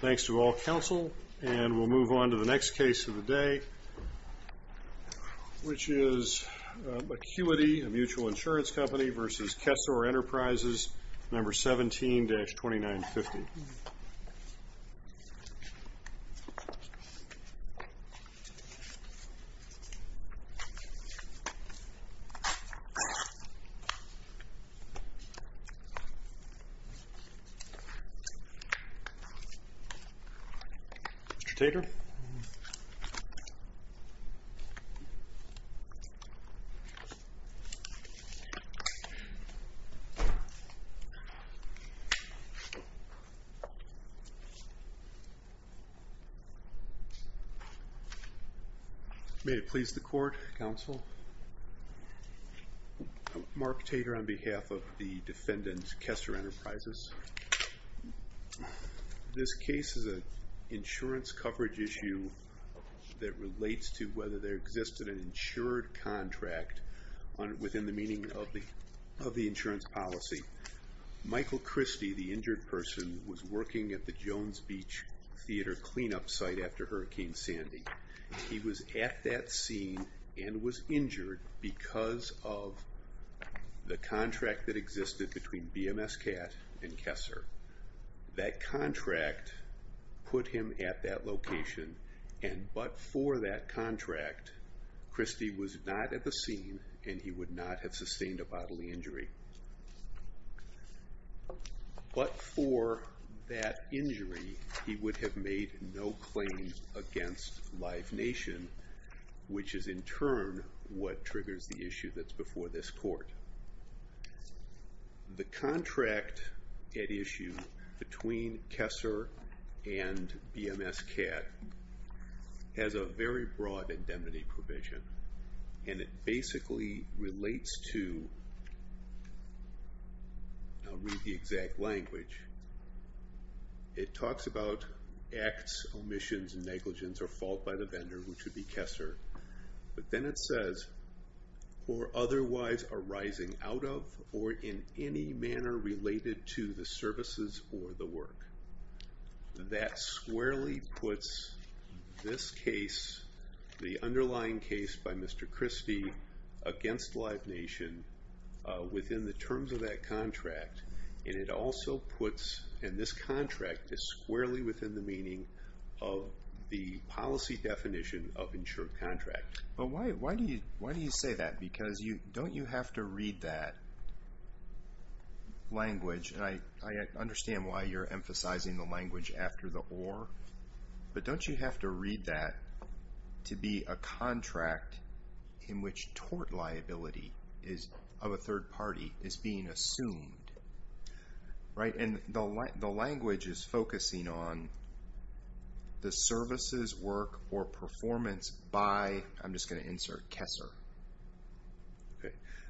Thanks to all counsel and we'll move on to the next case of the day which is Acuity a mutual insurance company versus Kessor Enterprises number 17-2950 Mr. Tater May it please the court, counsel Mark Tater on behalf of the defendant Kessor Enterprises This case is an insurance coverage issue that relates to whether there existed an insured contract within the meaning of the insurance policy Michael Christie, the injured person, was working at the Jones Beach Theater cleanup site after Hurricane Sandy He was at that scene and was injured because of the contract that existed between BMS CAT and Kessor That contract put him at that location and but for that contract Christie was not at the scene and he would not have sustained a bodily injury But for that injury he would have made no claim against Life Nation which is in turn what triggers the issue that's before this court The contract at issue between Kessor and BMS CAT has a very broad indemnity provision and it basically relates to I'll read the exact language It talks about acts, omissions and negligence or fault by the vendor which would be Kessor But then it says or otherwise arising out of or in any manner related to the services or the work That squarely puts this case, the underlying case by Mr. Christie against Life Nation within the terms of that contract And this contract is squarely within the meaning of the policy definition of insured contract Why do you say that? Because don't you have to read that language I understand why you're emphasizing the language after the or But don't you have to read that to be a contract in which tort liability of a third party is being assumed And the language is focusing on the services, work or performance by I'm just going to insert Kessor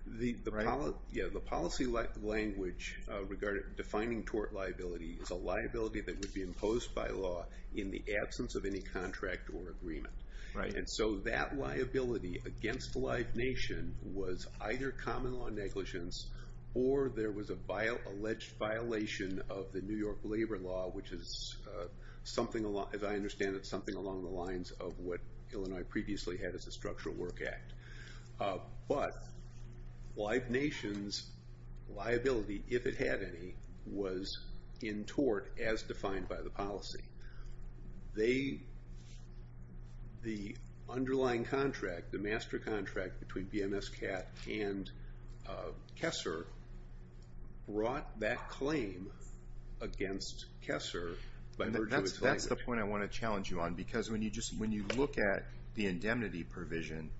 The policy language defining tort liability is a liability that would be imposed by law in the absence of any contract or agreement And so that liability against Life Nation was either common law negligence or there was an alleged violation of the New York Labor Law which is, as I understand it, something along the lines of what Illinois previously had as a Structural Work Act But Life Nation's liability, if it had any, was in tort as defined by the policy The underlying contract, the master contract between BMSCAT and Kessor brought that claim against Kessor That's the point I want to challenge you on because when you look at the indemnity provision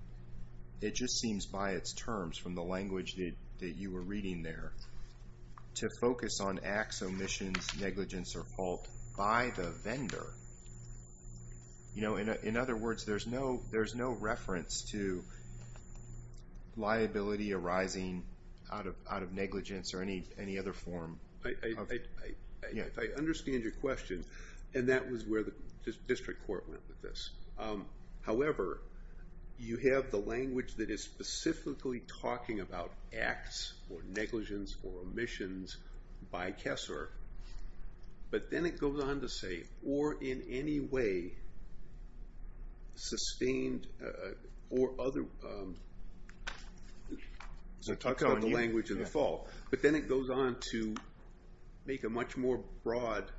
it just seems by its terms from the language that you were reading there to focus on acts, omissions, negligence or fault by the vendor In other words, there's no reference to liability arising out of negligence or any other form If I understand your question, and that was where the district court went with this However, you have the language that is specifically talking about acts or negligence or omissions by Kessor But then it goes on to say, or in any way sustained or other So talk about the language of the fault But then it goes on to make a much more broad correlation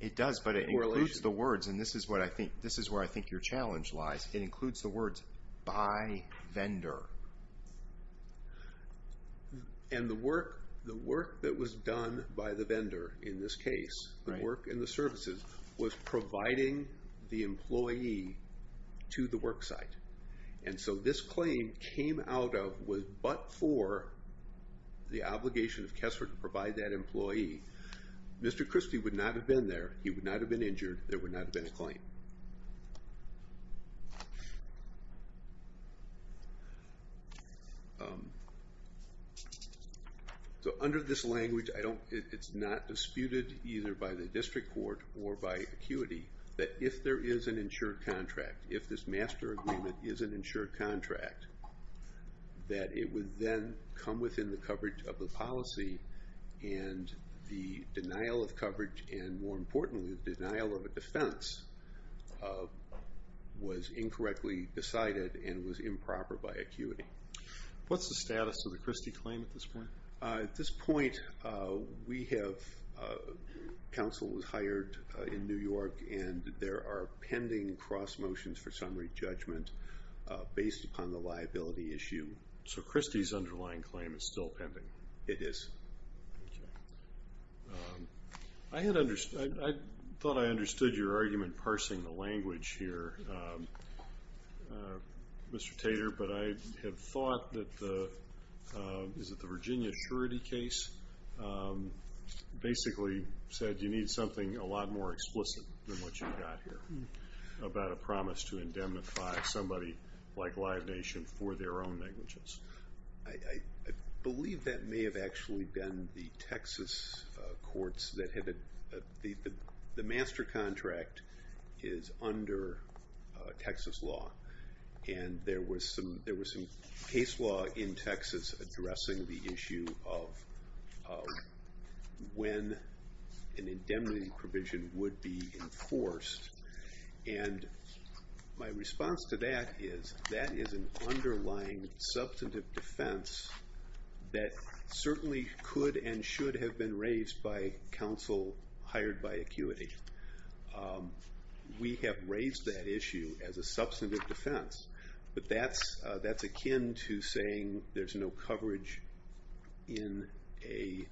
It does, but it includes the words and this is where I think your challenge lies It includes the words by vendor And the work that was done by the vendor in this case the work and the services was providing the employee to the worksite And so this claim came out of, but for the obligation of Kessor to provide that employee Mr. Christie would not have been there He would not have been injured There would not have been a claim So under this language, it's not disputed either by the district court or by ACUITY that if there is an insured contract if this master agreement is an insured contract that it would then come within the coverage of the policy And the denial of coverage and more importantly the denial of a defense was incorrectly decided and was improper by ACUITY What's the status of the Christie claim at this point? At this point, we have, counsel was hired in New York and there are pending cross motions for summary judgment based upon the liability issue So Christie's underlying claim is still pending? It is I had understood, I thought I understood your argument parsing the language here, Mr. Tater but I had thought that the, is it the Virginia surety case? Basically said you need something a lot more explicit than what you've got here about a promise to indemnify somebody like Live Nation for their own negligence I believe that may have actually been the Texas courts that had, the master contract is under Texas law and there was some case law in Texas addressing the issue of when an indemnity provision would be enforced and my response to that is that is an underlying substantive defense that certainly could and should have been raised by counsel hired by ACUITY We have raised that issue as a substantive defense but that's akin to saying there's no coverage in an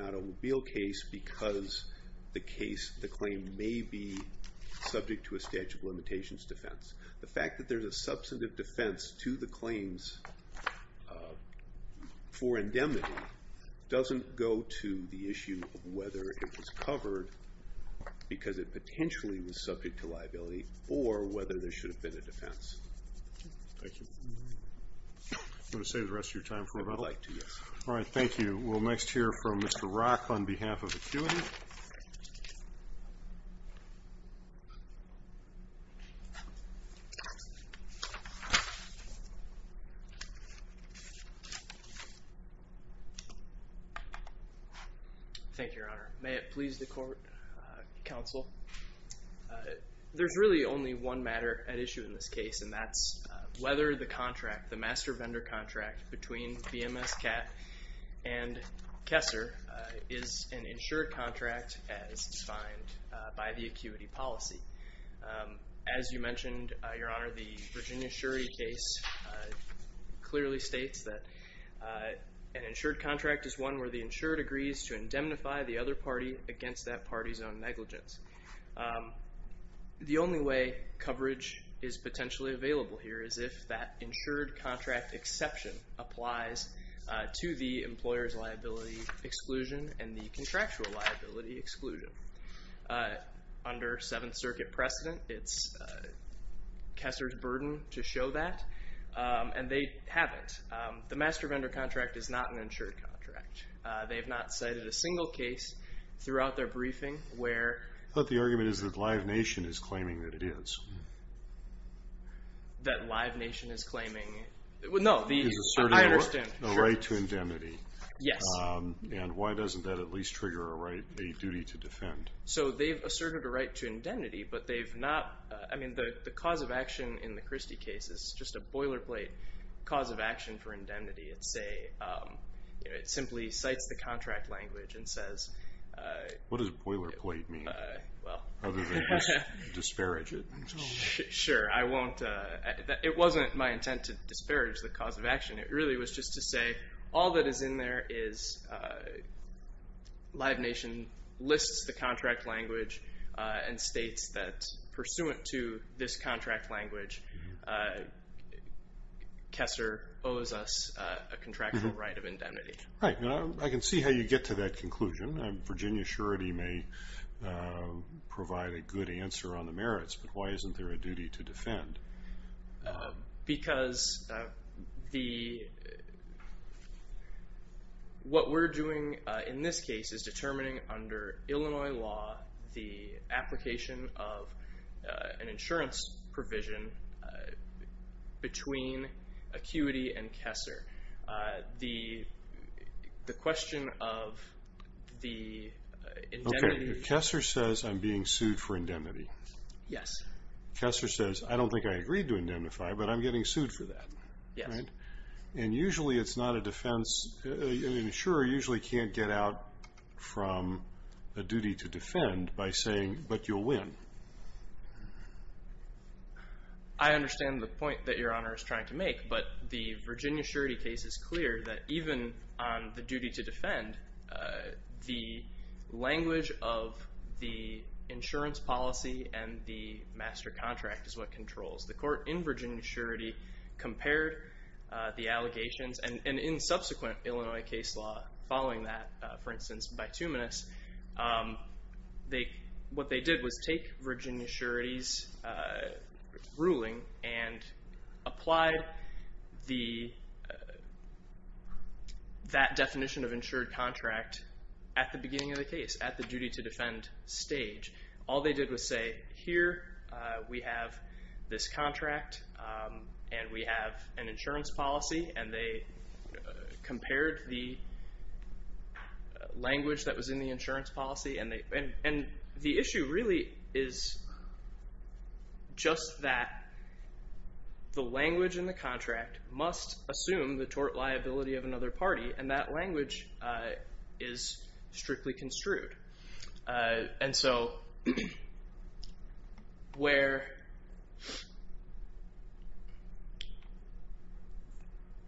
automobile case because the case, the claim may be subject to a statute of limitations defense the fact that there's a substantive defense to the claims for indemnity doesn't go to the issue of whether it was covered because it potentially was subject to liability or whether there should have been a defense Thank you Do you want to save the rest of your time for about I'd like to We'll next hear from Mr. Rock on behalf of ACUITY Thank you Your Honor May it please the court, counsel There's really only one matter at issue in this case and that's whether the contract, the master vendor contract between BMS CAT and Kessler is an insured contract as defined by the ACUITY policy As you mentioned, Your Honor, the Virginia surety case clearly states that an insured contract is one where the insured agrees to indemnify the other party against that party's own negligence The only way coverage is potentially available here is if that insured contract exception applies to the employer's liability exclusion and the contractual liability exclusion under Seventh Circuit precedent It's Kessler's burden to show that and they haven't The master vendor contract is not an insured contract They have not cited a single case throughout their briefing where But the argument is that Live Nation is claiming that it is That Live Nation is claiming No, I understand A right to indemnity Yes And why doesn't that at least trigger a right, a duty to defend? So they've asserted a right to indemnity but they've not I mean, the cause of action in the Christie case is just a boilerplate cause of action for indemnity It's a It simply cites the contract language and says What does boilerplate mean? Other than just disparage it Sure, I won't It wasn't my intent to disparage the cause of action It really was just to say All that is in there is Live Nation lists the contract language and states that pursuant to this contract language Kessler owes us a contractual right of indemnity Right, I can see how you get to that conclusion Virginia surety may provide a good answer on the merits but why isn't there a duty to defend? Because the What we're doing in this case is determining under Illinois law the application of an insurance provision between Acuity and Kessler The question of the indemnity Kessler says I'm being sued for indemnity Yes Kessler says I don't think I agreed to indemnify but I'm getting sued for that Yes And usually it's not a defense An insurer usually can't get out from a duty to defend by saying but you'll win I understand the point that your honor is trying to make but the Virginia surety case is clear that even on the duty to defend the language of the insurance policy and the master contract is what controls The court in Virginia surety compared the allegations and in subsequent Illinois case law following that for instance by Tuminous what they did was take Virginia surety's ruling and applied that definition of insured contract at the beginning of the case at the duty to defend stage all they did was say here we have this contract and we have an insurance policy and they compared the language that was in the insurance policy and the issue really is just that the language in the contract must assume the tort liability of another party and that language is strictly construed and so where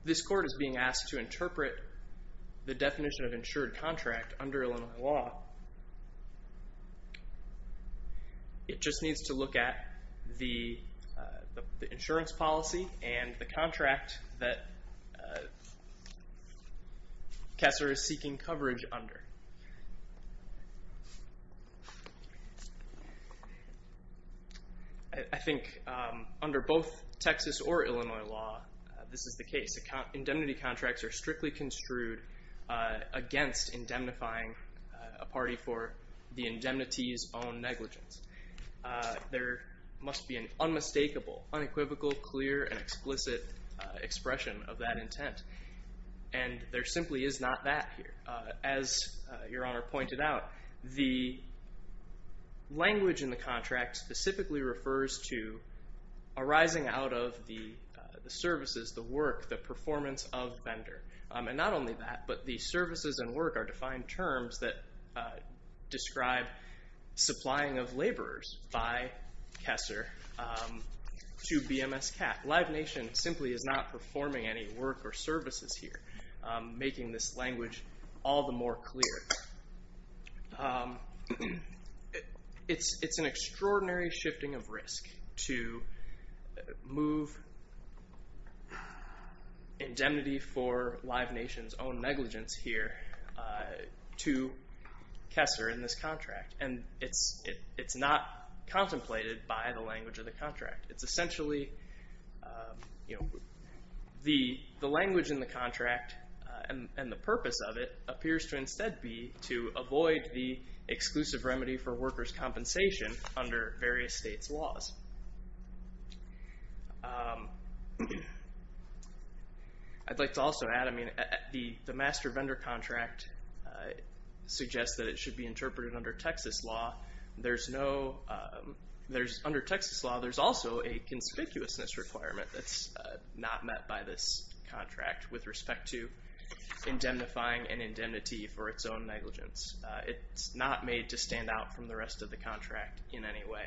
this court is being asked to interpret the definition of insured contract under Illinois law it just needs to look at the insurance policy and the contract that Kessler is seeking coverage under I think under both Texas or Illinois law this is the case indemnity contracts are strictly construed against indemnifying a party for the indemnity's own negligence there must be an unmistakable unequivocal clear and explicit expression of that intent and there simply is not that here as your honor pointed out the language in the contract specifically refers to arising out of the services, the work, the performance of the vendor and not only that but the services and work are defined terms that describe supplying of laborers by Kessler to BMS CAT Live Nation simply is not performing any work or services here making this language all the more clear it's an extraordinary shifting of risk to move indemnity for Live Nation's own negligence here to Kessler in this contract and it's not contemplated by the language of the contract it's essentially the language in the contract and the purpose of it appears to instead be to avoid the exclusive remedy for workers' compensation under various states' laws I'd like to also add the master vendor contract suggests that it should be interpreted under Texas law there's no under Texas law there's also a conspicuousness requirement that's not met by this contract with respect to indemnifying an indemnity for its own negligence it's not made to stand out from the rest of the contract in any way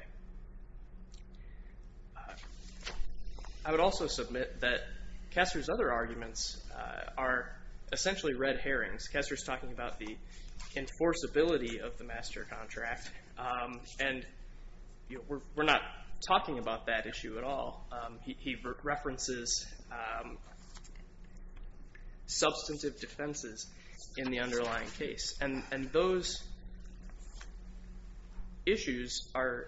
I would also submit that Kessler's other arguments are essentially red herrings Kessler's talking about the enforceability of the master contract and we're not talking about that issue at all he references substantive defenses in the underlying case and those issues are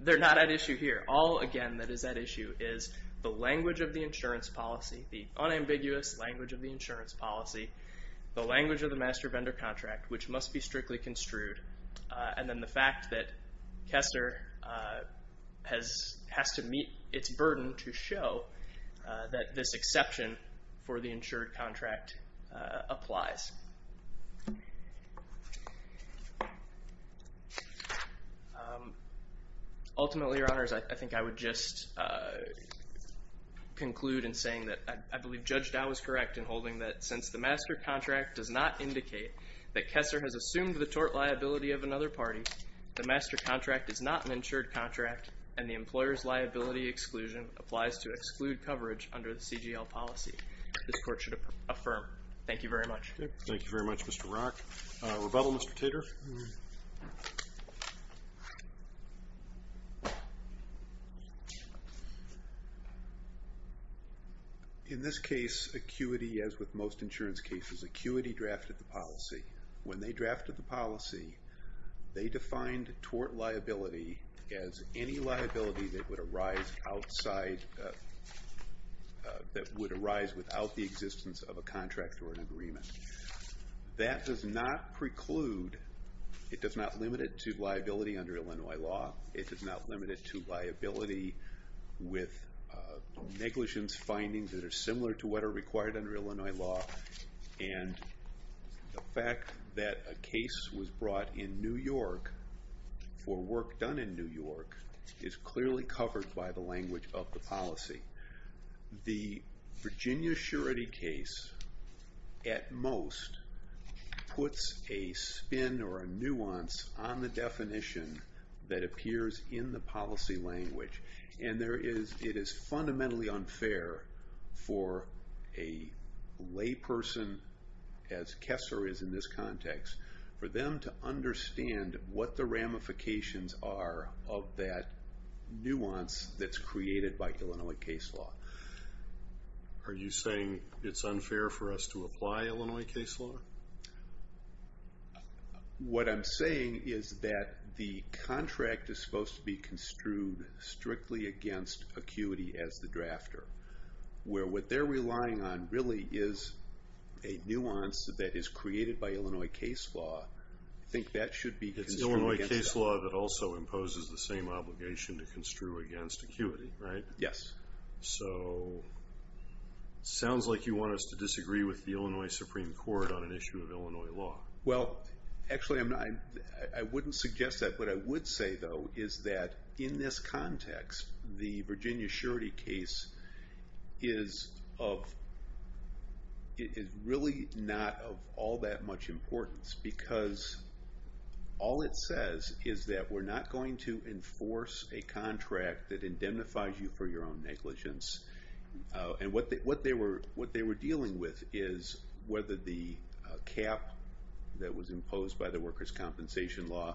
they're not at issue here all again that is at issue is the language of the insurance policy the unambiguous language of the insurance policy the language of the master vendor contract which must be strictly construed and then the fact that Kessler has to meet its burden to show that this exception for the insured contract applies ultimately your honors I think I would just conclude in saying that I believe Judge Dow is correct in holding that since the master contract does not indicate that Kessler has assumed the tort liability of another party the master contract is not an insured contract and the employer's liability exclusion applies to exclude coverage under the CGL policy this court should affirm thank you very much thank you very much Mr. Rock rebuttal Mr. Tater in this case acuity as with most insurance cases acuity drafted the policy when they drafted the policy they defined tort liability as any liability that would arise outside that would arise without the existence of a contract or an agreement that does not preclude it does not limit it to liability under Illinois law it does not limit it to liability with negligence findings that are similar to what are required under Illinois law and the fact that a case was brought in New York for work done in New York is clearly covered by the language of the policy the Virginia surety case at most puts a spin or a nuance on the definition that appears in the policy language and there is it is fundamentally unfair for a lay person as Kessler is in this context for them to understand what the ramifications are of that nuance that's created by Illinois case law are you saying it's unfair for us to apply Illinois case law what I'm saying is that the contract is supposed to be construed strictly against acuity as the drafter where what they're relying on really is a nuance that is created by Illinois case law I think that should be it's Illinois case law that also imposes the same obligation to construe against acuity right? yes so sounds like you want us to disagree with the Illinois Supreme Court on an issue of Illinois law well actually I'm not I wouldn't suggest that but I would say though is that in this context the Virginia surety case is of it is really not of all that much importance because all it says is that we're not going to enforce a contract that indemnifies you for your own negligence and what they were dealing with is whether the cap that was imposed by the workers' compensation law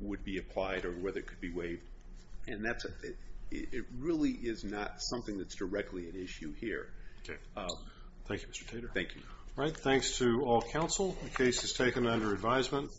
would be applied or whether it could be waived and that's it really is not something that's directly an issue here okay thank you Mr. Tater thank you alright thanks to all counsel the case is taken under advisement